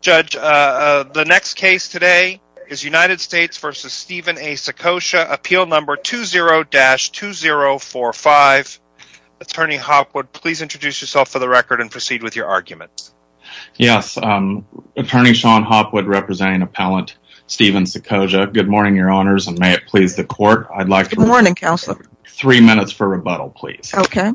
Judge, the next case today is United States v. Stephen A. Saccoccia, Appeal No. 20-2045. Attorney Hopwood, please introduce yourself for the record and proceed with your argument. Yes, Attorney Sean Hopwood, representing Appellant Stephen Saccoccia. Good morning, Your Honors, and may it please the Court. Good morning, Counselor. I'd like three minutes for rebuttal, please. Okay.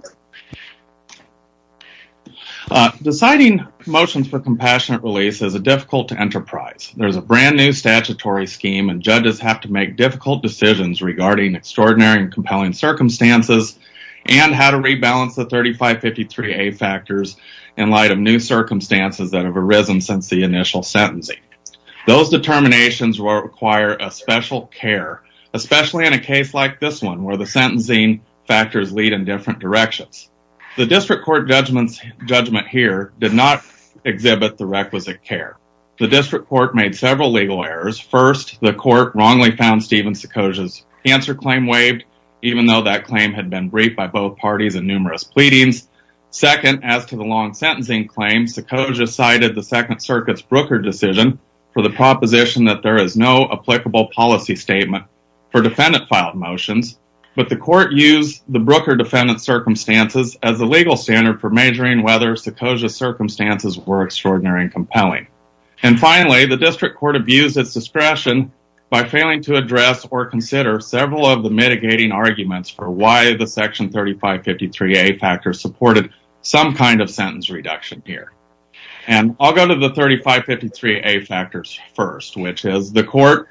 Deciding motions for compassionate release is a difficult enterprise. There's a brand new statutory scheme, and judges have to make difficult decisions regarding extraordinary and compelling circumstances and how to rebalance the 3553A factors in light of new circumstances that have arisen since the initial sentencing. Those determinations will require a special care, especially in a case like this one where the sentencing factors lead in different directions. The District Court judgment here did not exhibit the requisite care. The District Court made several legal errors. First, the Court wrongly found Stephen Saccoccia's answer claim waived, even though that claim had been briefed by both parties in numerous pleadings. Second, as to the long sentencing claim, Saccoccia cited the Second Circuit's Brooker decision for the proposition that there is no applicable policy statement for defendant-filed motions, but the Court used the Brooker defendant's circumstances as a legal standard for measuring whether Saccoccia's circumstances were extraordinary and compelling. And finally, the District Court abused its discretion by failing to address or consider several of the mitigating arguments for why the Section 3553A factors supported some kind of sentence reduction here. And I'll go to the 3553A factors first, which is the Court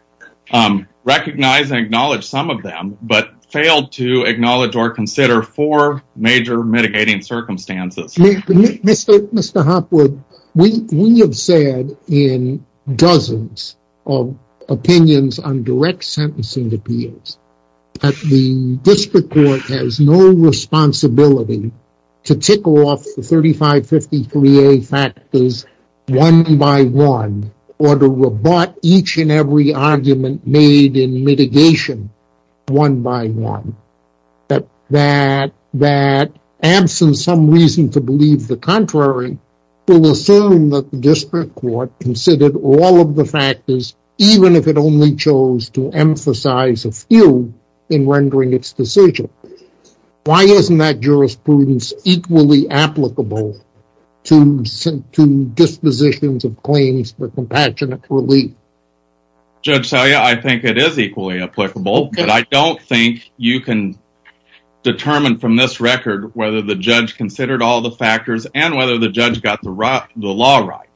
recognized and acknowledged some of them, but failed to acknowledge or consider four major mitigating circumstances. Mr. Hopwood, we have said in dozens of opinions on direct sentencing appeals that the District Court has no responsibility to tickle off the 3553A factors one by one, or to rebut each and every argument made in mitigation one by one. That absence of some reason to believe the contrary will assume that the District Court considered all of the factors, even if it only chose to emphasize a few in rendering its decision. Why isn't that jurisprudence equally applicable to dispositions of claims for compassionate relief? Judge Selye, I think it is equally applicable, but I don't think you can determine from this record whether the judge considered all the factors and whether the judge got the law right.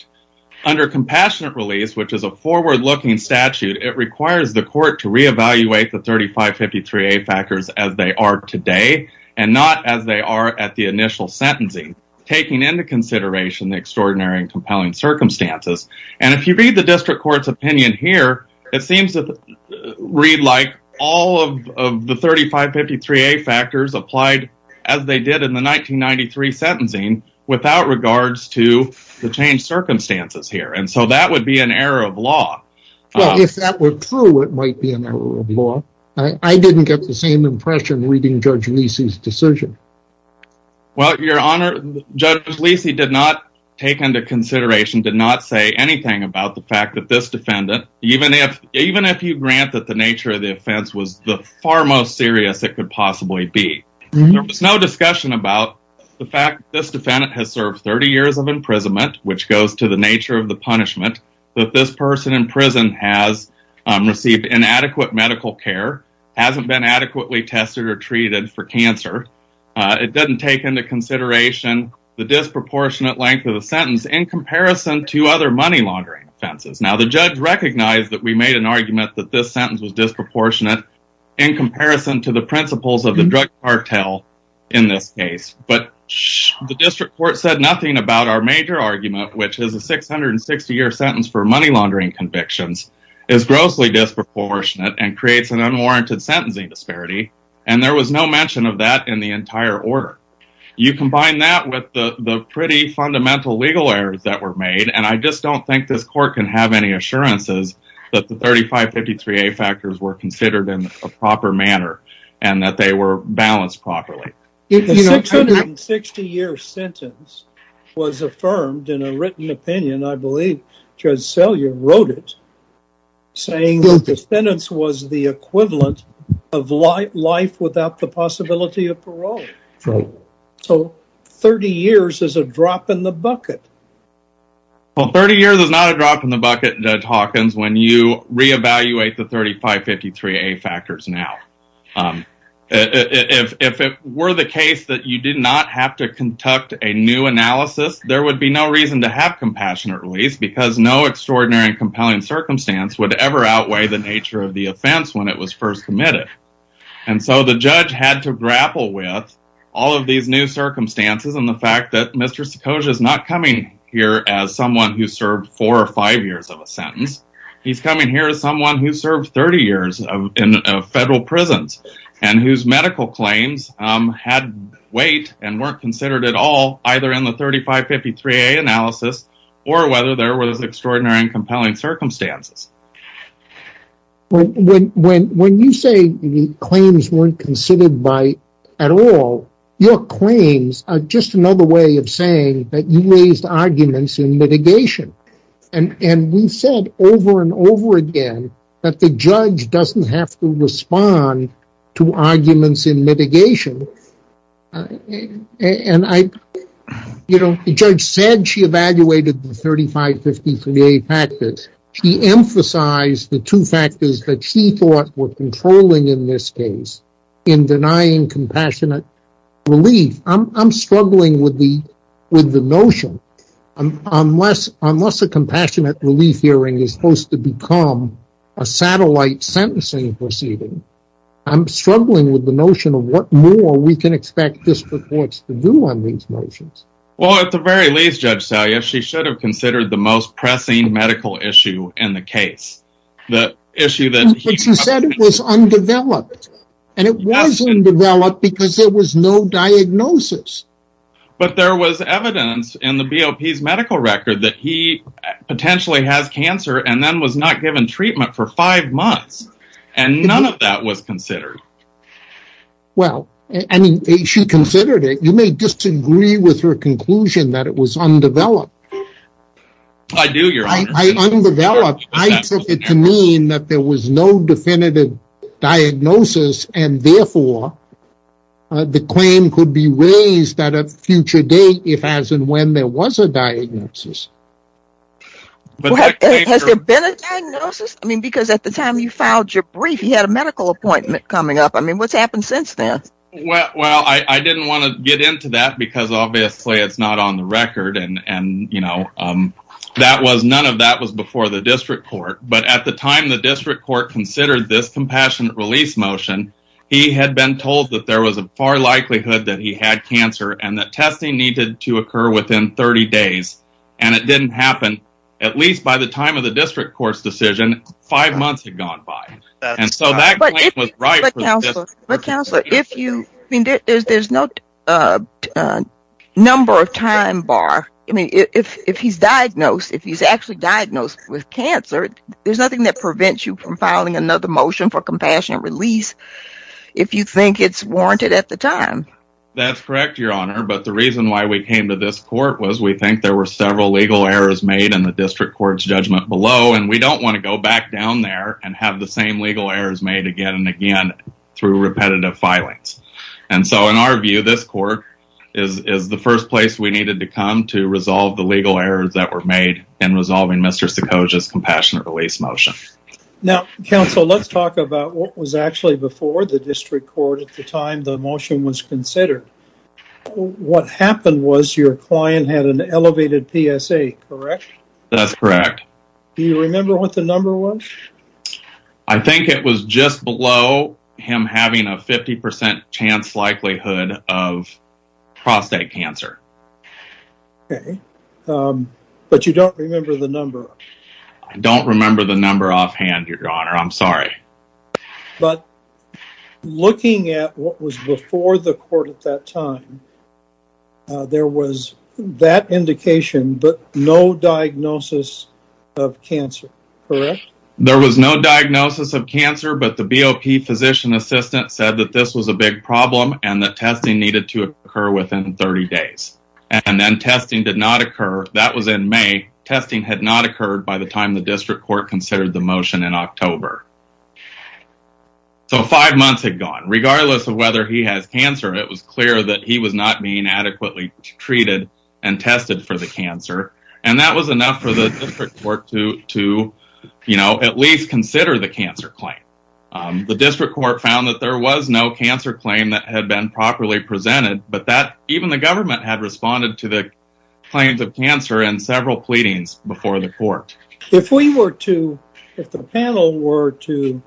Under compassionate release, which is a forward-looking statute, it requires the Court to reevaluate the 3553A factors as they are today and not as they are at the initial sentencing, taking into consideration the extraordinary and compelling circumstances. And if you read the District Court's opinion here, it seems to read like all of the 3553A factors applied as they did in the 1993 sentencing without regards to the changed circumstances here. And so that would be an error of law. Well, if that were true, it might be an error of law. I didn't get the same impression reading Judge Lisi's decision. Well, Your Honor, Judge Lisi did not take into consideration, did not say anything about the fact that this defendant, even if you grant that the nature of the offense was the far most serious it could possibly be, there was no discussion about the fact that this defendant has served 30 years of imprisonment, which goes to the nature of the punishment, that this person in prison has received inadequate medical care, hasn't been adequately tested or treated for cancer. It doesn't take into consideration the disproportionate length of the sentence in comparison to other money laundering offenses. Now, the judge recognized that we made an argument that this sentence was disproportionate in comparison to the principles of the drug cartel in this case. But the District Court said nothing about our major argument, which is a 660-year sentence for money laundering convictions is grossly disproportionate and creates an unwarranted sentencing disparity. And there was no mention of that in the entire order. You combine that with the pretty fundamental legal errors that were made, and I just don't think this court can have any assurances that the 3553A factors were considered in a proper manner and that they were balanced properly. The 660-year sentence was affirmed in a written opinion, I believe Judge Selyer wrote it, saying the sentence was the equivalent of life without the possibility of parole. So, 30 years is a drop in the bucket. Well, 30 years is not a drop in the bucket, Judge Hawkins, when you reevaluate the 3553A factors now. If it were the case that you did not have to conduct a new analysis, there would be no reason to have compassionate release, because no extraordinary and compelling circumstance would ever outweigh the nature of the offense when it was first committed. And so the judge had to grapple with all of these new circumstances and the fact that Mr. Sekoja is not coming here as someone who served four or five years of a sentence. He's coming here as someone who served 30 years in federal prisons and whose medical claims had weight and weren't considered at all, either in the 3553A analysis or whether there were extraordinary and compelling circumstances. When you say claims weren't considered at all, your claims are just another way of saying that you raised arguments in mitigation. And we've said over and over again that the judge doesn't have to respond to arguments in mitigation. The judge said she evaluated the 3553A factors. She emphasized the two factors that she thought were controlling in this case in denying compassionate relief. I'm struggling with the notion. Unless a compassionate relief hearing is supposed to become a satellite sentencing proceeding, I'm struggling with the notion of what more we can expect district courts to do on these notions. Well, at the very least, Judge Salyer, she should have considered the most pressing medical issue in the case. But she said it was undeveloped. And it was undeveloped because there was no diagnosis. But there was evidence in the BOP's medical record that he potentially has cancer and then was not given treatment for five months. And none of that was considered. Well, I mean, she considered it. You may disagree with her conclusion that it was undeveloped. I do, Your Honor. Undeveloped, I took it to mean that there was no definitive diagnosis and therefore the claim could be raised at a future date if as and when there was a diagnosis. Has there been a diagnosis? I mean, because at the time you filed your brief, you had a medical appointment coming up. I mean, what's happened since then? Well, I didn't want to get into that because obviously it's not on the record. And, you know, none of that was before the district court. But at the time the district court considered this compassionate release motion, he had been told that there was a far likelihood that he had cancer and that testing needed to occur within 30 days. And it didn't happen. At least by the time of the district court's decision, five months had gone by. But, counselor, there's no number of time bar. I mean, if he's diagnosed, if he's actually diagnosed with cancer, there's nothing that prevents you from filing another motion for compassionate release if you think it's warranted at the time. That's correct, Your Honor. But the reason why we came to this court was we think there were several legal errors made in the district court's judgment below, and we don't want to go back down there and have the same legal errors made again and again through repetitive filings. And so in our view, this court is the first place we needed to come to resolve the legal errors that were made in resolving Mr. Sekoja's compassionate release motion. Now, counsel, let's talk about what was actually before the district court at the time the motion was considered. What happened was your client had an elevated PSA, correct? That's correct. Do you remember what the number was? I think it was just below him having a 50% chance likelihood of prostate cancer. Okay. But you don't remember the number. I don't remember the number offhand, Your Honor. I'm sorry. But looking at what was before the court at that time, there was that indication but no diagnosis of cancer, correct? There was no diagnosis of cancer, but the BOP physician assistant said that this was a big problem and that testing needed to occur within 30 days. And then testing did not occur. That was in May. Testing had not occurred by the time the district court considered the motion in October. So five months had gone. Regardless of whether he has cancer, it was clear that he was not being adequately treated and tested for the cancer. And that was enough for the district court to, you know, at least consider the cancer claim. The district court found that there was no cancer claim that had been properly presented, but even the government had responded to the claims of cancer in several pleadings before the court. If we were to, if the panel were to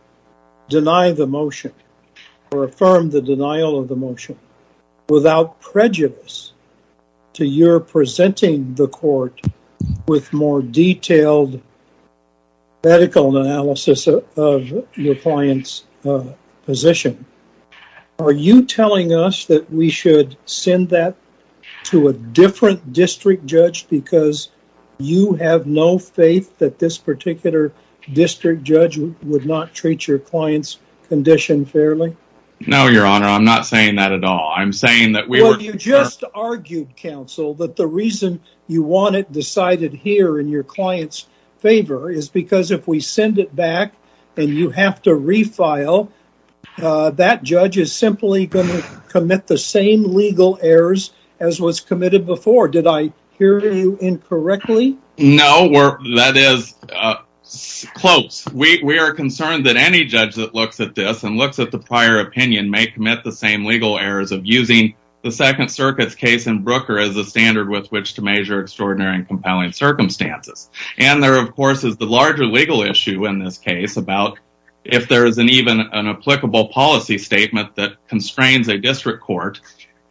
deny the motion or affirm the denial of the motion without prejudice to your presenting the court with more detailed medical analysis of your client's position, are you telling us that we should send that to a different district judge because you have no faith that this particular district judge would not treat your client's condition fairly? No, Your Honor. I'm not saying that at all. I'm saying that we were... Well, you just argued, counsel, that the reason you want it decided here in your client's favor is because if we send it back and you have to refile, that judge is simply going to commit the same legal errors as was committed before. Did I hear you incorrectly? No, that is close. We are concerned that any judge that looks at this and looks at the prior opinion may commit the same legal errors of using the Second Circuit's case in Brooker as a standard with which to measure extraordinary and compelling circumstances. And there, of course, is the larger legal issue in this case about if there is even an applicable policy statement that constrains a district court.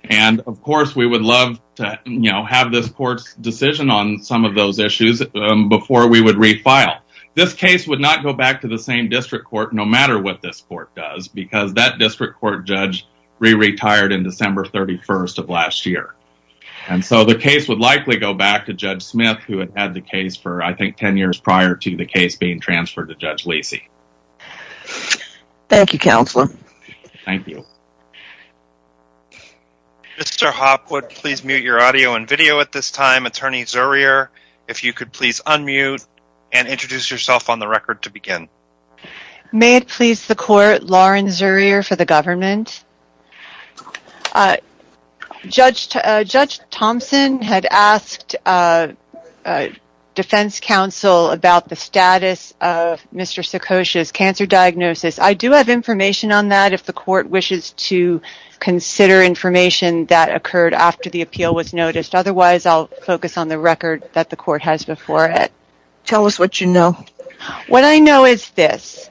And, of course, we would love to have this court's decision on some of those issues before we would refile. This case would not go back to the same district court no matter what this court does because that district court judge re-retired in December 31st of last year. And so the case would likely go back to Judge Smith who had had the case for, I think, 10 years prior to the case being transferred to Judge Lacey. Thank you, counsel. Thank you. Mr. Hopwood, please mute your audio and video at this time. Attorney Zurier, if you could please unmute and introduce yourself on the record to begin. May it please the court, Lauren Zurier for the government. Judge Thompson had asked Defense Counsel about the status of Mr. Sikosha's cancer diagnosis. I do have information on that if the court wishes to consider information that occurred after the appeal was noticed. Otherwise, I'll focus on the record that the court has before it. Tell us what you know. What I know is this.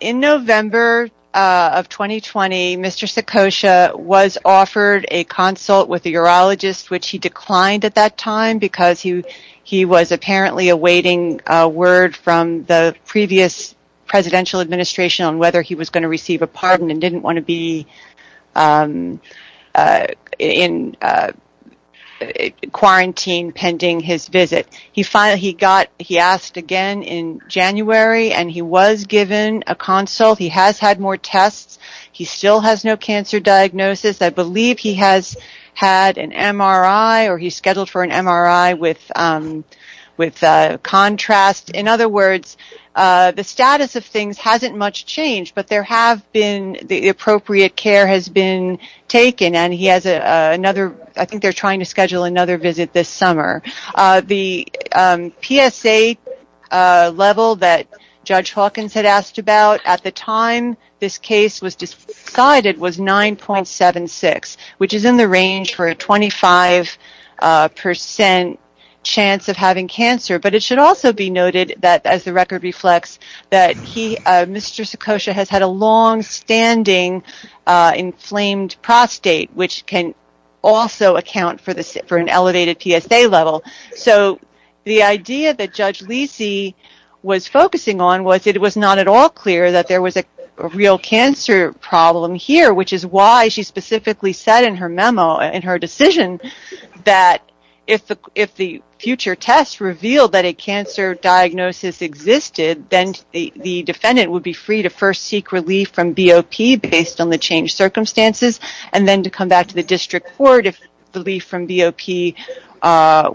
In November of 2020, Mr. Sikosha was offered a consult with a urologist which he declined at that time because he was apparently awaiting a word from the previous presidential administration on whether he was going to receive a pardon and didn't want to be in quarantine pending his visit. He asked again in January and he was given a consult. He has had more tests. He still has no cancer diagnosis. I believe he has had an MRI or he's scheduled for an MRI with contrast. In other words, the status of things hasn't much changed, but the appropriate care has been taken. I think they're trying to schedule another visit this summer. The PSA level that Judge Hawkins had asked about at the time this case was decided was 9.76, which is in the range for a 25% chance of having cancer. But it should also be noted, as the record reflects, that Mr. Sikosha has had a long-standing inflamed prostate, which can also account for an elevated PSA level. So the idea that Judge Lisi was focusing on was it was not at all clear that there was a real cancer problem here, which is why she specifically said in her memo, in her decision, that if the future test revealed that a cancer diagnosis existed, then the defendant would be free to first seek relief from BOP based on the changed circumstances and then to come back to the district court if the relief from BOP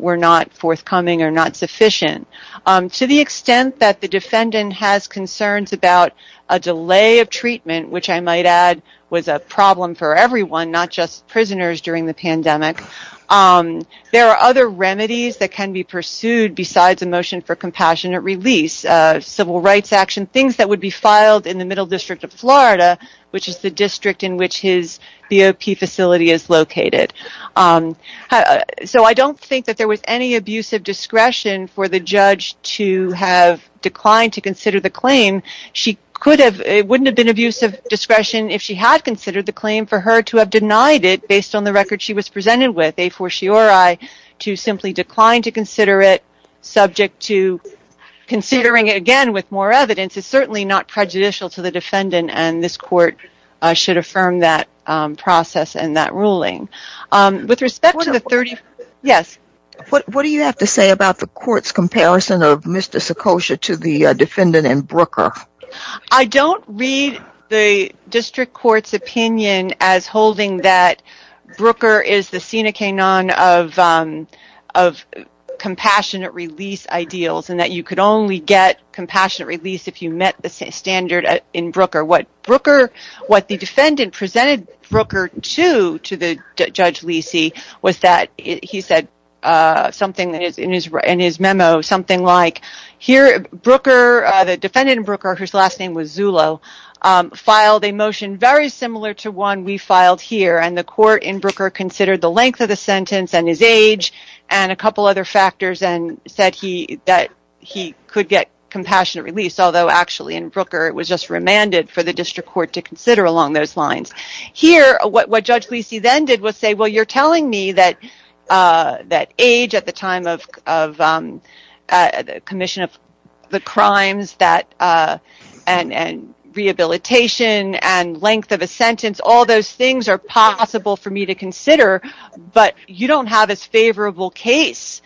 were not forthcoming or not sufficient. To the extent that the defendant has concerns about a delay of treatment, which I might add was a problem for everyone, not just prisoners during the pandemic, there are other remedies that can be pursued besides a motion for compassionate release, civil rights action, things that would be filed in the Middle District of Florida, which is the district in which his BOP facility is located. So I don't think that there was any abusive discretion for the judge to have declined to consider the claim. It wouldn't have been abusive discretion if she had considered the claim for her to have denied it based on the record she was presented with, a fortiori, to simply decline to consider it, subject to considering it again with more evidence is certainly not prejudicial to the defendant and this court should affirm that process and that ruling. What do you have to say about the court's comparison of Mr. Sekosha to the defendant in Brooker? I don't read the district court's opinion as holding that of compassionate release ideals and that you could only get compassionate release if you met the standard in Brooker. What the defendant presented Brooker to, to Judge Lisi, was that he said something in his memo, something like, here Brooker, the defendant in Brooker, whose last name was Zullo, filed a motion very similar to one we filed here and the court in Brooker considered the length of the sentence and his age and a couple other factors and said that he could get compassionate release, although actually in Brooker it was just remanded for the district court to consider along those lines. Here, what Judge Lisi then did was say, well you're telling me that age at the time of commission of the crimes and rehabilitation and length of a sentence, all those things are possible for me to consider, but you don't have as favorable case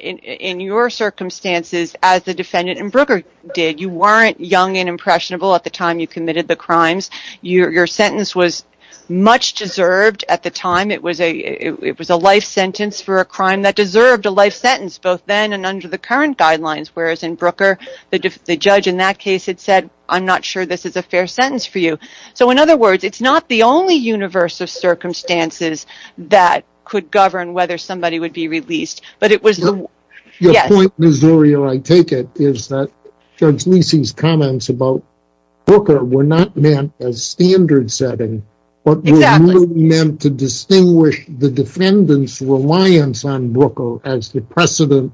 in your circumstances as the defendant in Brooker did. You weren't young and impressionable at the time you committed the crimes. Your sentence was much deserved at the time. It was a life sentence for a crime that deserved a life sentence both then and under the current guidelines, whereas in Brooker the judge in that case had said, I'm not sure this is a fair sentence for you. So in other words, it's not the only universe of circumstances that could govern whether somebody would be released. Your point, Missouri, or I take it, is that Judge Lisi's comments about Brooker were not meant as standard setting, but were really meant to distinguish the defendant's reliance on Brooker as the precedent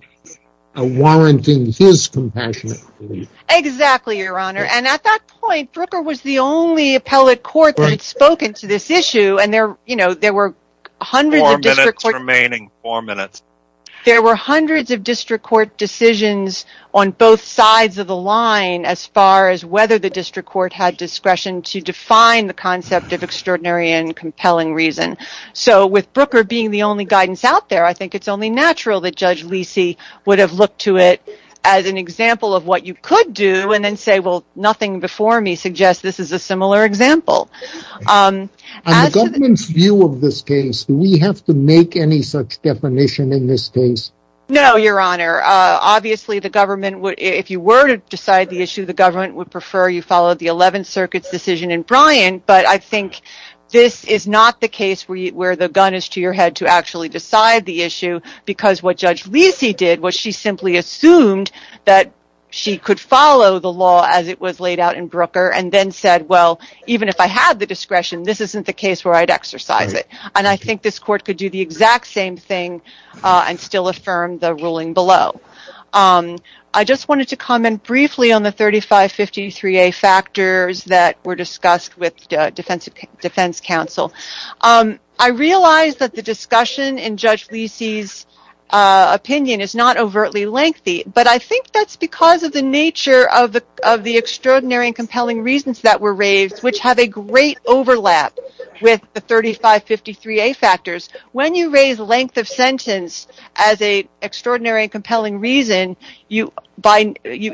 warranting his compassionate release. Exactly, Your Honor. At that point, Brooker was the only appellate court that had spoken to this issue and there were hundreds of district court decisions on both sides of the line as far as whether the district court had discretion to define the concept of extraordinary and compelling reason. So with Brooker being the only guidance out there, I think it's only natural that Judge Lisi would have looked to it as an example of what you could do and then say, well, nothing before me suggests this is a similar example. In the government's view of this case, do we have to make any such definition in this case? No, Your Honor. Obviously, if you were to decide the issue, the government would prefer you follow the 11th Circuit's decision in Bryant, but I think this is not the case where the gun is to your head to actually decide the issue because what Judge Lisi did was she simply assumed that she could follow the law as it was laid out in Brooker and then said, well, even if I had the discretion, this isn't the case where I'd exercise it. And I think this court could do the exact same thing and still affirm the ruling below. I just wanted to comment briefly on the 3553A factors that were discussed with defense counsel. I realize that the discussion in Judge Lisi's opinion is not overtly lengthy, but I think that's because of the nature of the extraordinary and compelling reasons that were raised, which have a great overlap with the 3553A factors. When you raise length of sentence as an extraordinary and compelling reason, you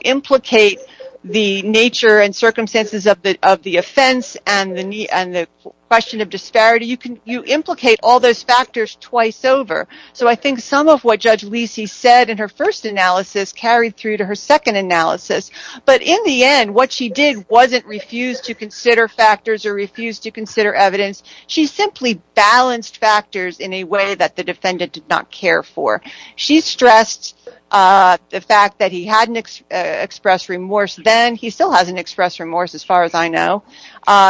implicate the nature and circumstances of the offense and the question of disparity. You implicate all those factors twice over. So I think some of what Judge Lisi said in her first analysis carried through to her second analysis. But in the end, what she did wasn't refuse to consider factors or refuse to consider evidence. She simply balanced factors in a way that the defendant did not care for. She stressed the fact that he hadn't expressed remorse then. He still hasn't expressed remorse as far as I know.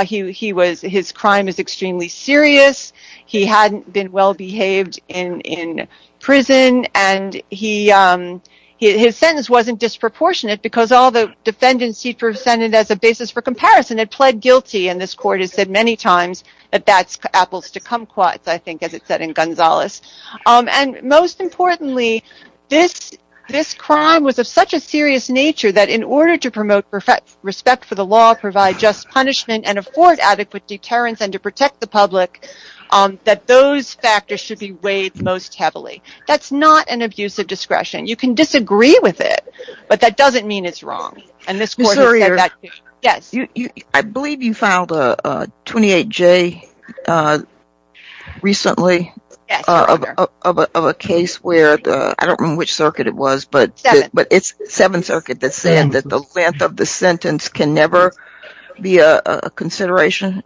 His crime is extremely serious. He hadn't been well behaved in prison. And his sentence wasn't disproportionate because all the defendants he presented as a basis for comparison had pled guilty. And this court has said many times that that's apples to kumquats, I think, as it said in Gonzales. And most importantly, this crime was of such a serious nature that in order to promote respect for the law, provide just punishment, and afford adequate deterrence and to protect the public, that those factors should be weighed most heavily. That's not an abuse of discretion. You can disagree with it, but that doesn't mean it's wrong. And this court has said that too. I believe you filed a 28-J recently of a case where, I don't remember which circuit it was, but it's Seventh Circuit that said that the length of the sentence can never be a consideration.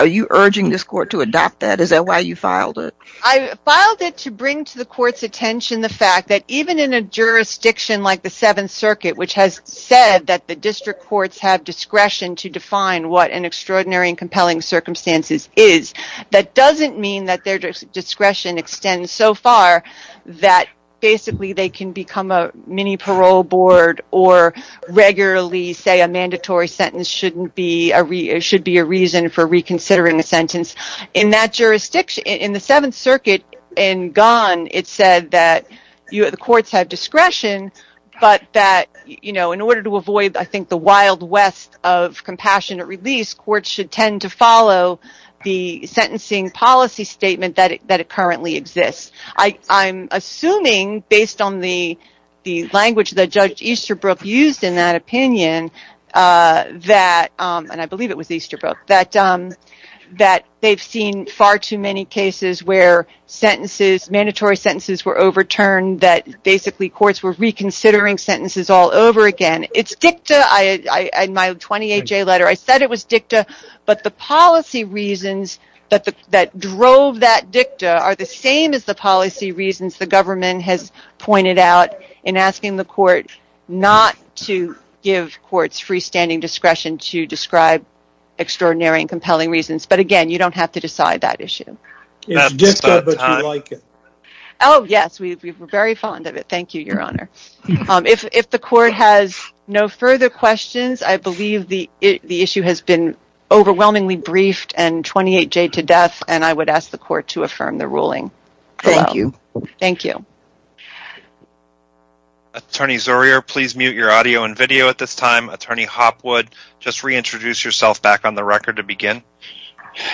Are you urging this court to adopt that? Is that why you filed it? I filed it to bring to the court's attention the fact that even in a jurisdiction like the Seventh Circuit, which has said that the district courts have discretion to define what an extraordinary and compelling circumstance is, that doesn't mean that their discretion extends so far that basically they can become a mini-parole board or regularly say a mandatory sentence should be a reason for reconsidering a sentence. In the Seventh Circuit in Ghan, it said that the courts have discretion, but that in order to avoid the wild west of compassionate release, courts should tend to follow the sentencing policy statement that currently exists. I'm assuming, based on the language that Judge Easterbrook used in that opinion, and I believe it was Easterbrook, that they've seen far too many cases where mandatory sentences were overturned that basically courts were reconsidering sentences all over again. In my 28-J letter, I said it was dicta, but the policy reasons that drove that dicta are the same as the policy reasons the government has pointed out in asking the court not to give courts freestanding discretion to describe extraordinary and compelling reasons. But again, you don't have to decide that issue. It's dicta, but you like it. Oh, yes, we're very fond of it. Thank you, Your Honor. If the court has no further questions, I believe the issue has been overwhelmingly briefed and 28-J to death, and I would ask the court to affirm the ruling. Thank you. Thank you. Attorney Zurier, please mute your audio and video at this time. Attorney Hopwood, just reintroduce yourself back on the record to begin.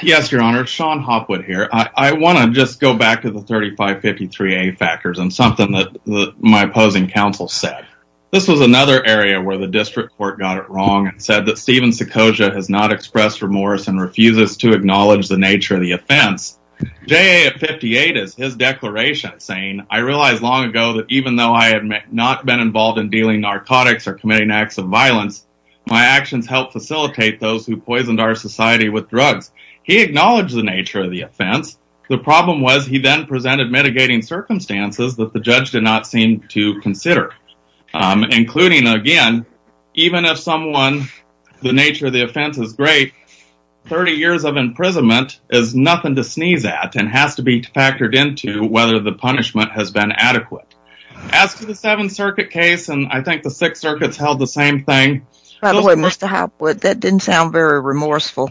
Yes, Your Honor, Sean Hopwood here. I want to just go back to the 3553A factors and something that my opposing counsel said. This was another area where the district court got it wrong and said that Stephen Sekoja has not expressed remorse and refuses to acknowledge the nature of the offense. J.A. of 58 is his declaration saying, I realized long ago that even though I had not been involved in dealing narcotics or committing acts of violence, my actions helped facilitate those who poisoned our society with drugs. He acknowledged the nature of the offense. The problem was he then presented mitigating circumstances that the judge did not seem to consider, including, again, even if someone, the nature of the offense is great, 30 years of imprisonment is nothing to sneeze at and has to be factored into whether the punishment has been adequate. As to the Seventh Circuit case, and I think the Sixth Circuit's held the same thing. By the way, Mr. Hopwood, that didn't sound very remorseful.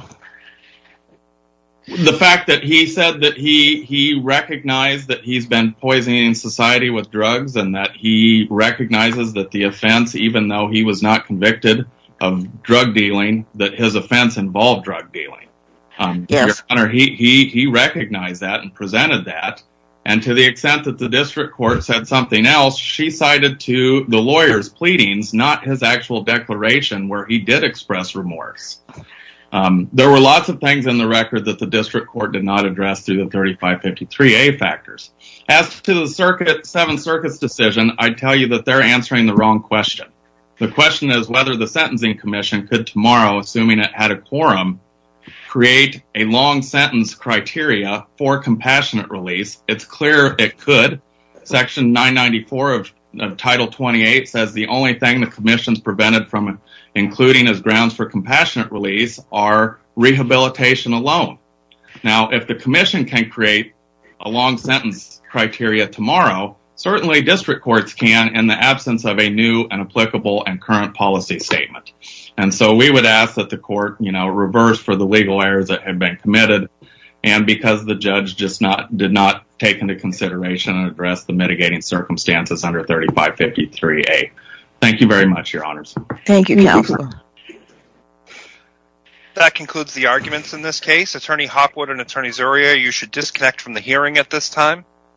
The fact that he said that he recognized that he's been poisoning society with drugs and that he recognizes that the offense, even though he was not convicted of drug dealing, that his offense involved drug dealing. He recognized that and presented that, and to the extent that the district court said something else, she cited to the lawyer's pleadings, not his actual declaration, where he did express remorse. There were lots of things in the record that the district court did not address through the 3553A factors. As to the Seventh Circuit's decision, I'd tell you that they're answering the wrong question. The question is whether the Sentencing Commission could tomorrow, assuming it had a quorum, create a long-sentence criteria for compassionate release. It's clear it could. Section 994 of Title 28 says the only thing the commission's prevented from including as grounds for compassionate release are rehabilitation alone. Now, if the commission can create a long-sentence criteria tomorrow, certainly district courts can in the absence of a new and applicable and current policy statement. And so we would ask that the court reverse for the legal errors that have been committed, and because the judge did not take into consideration and address the mitigating circumstances under 3553A. Thank you very much, Your Honors. Thank you, Counselor. That concludes the arguments in this case. Attorney Hopwood and Attorney Zurier, you should disconnect from the hearing at this time.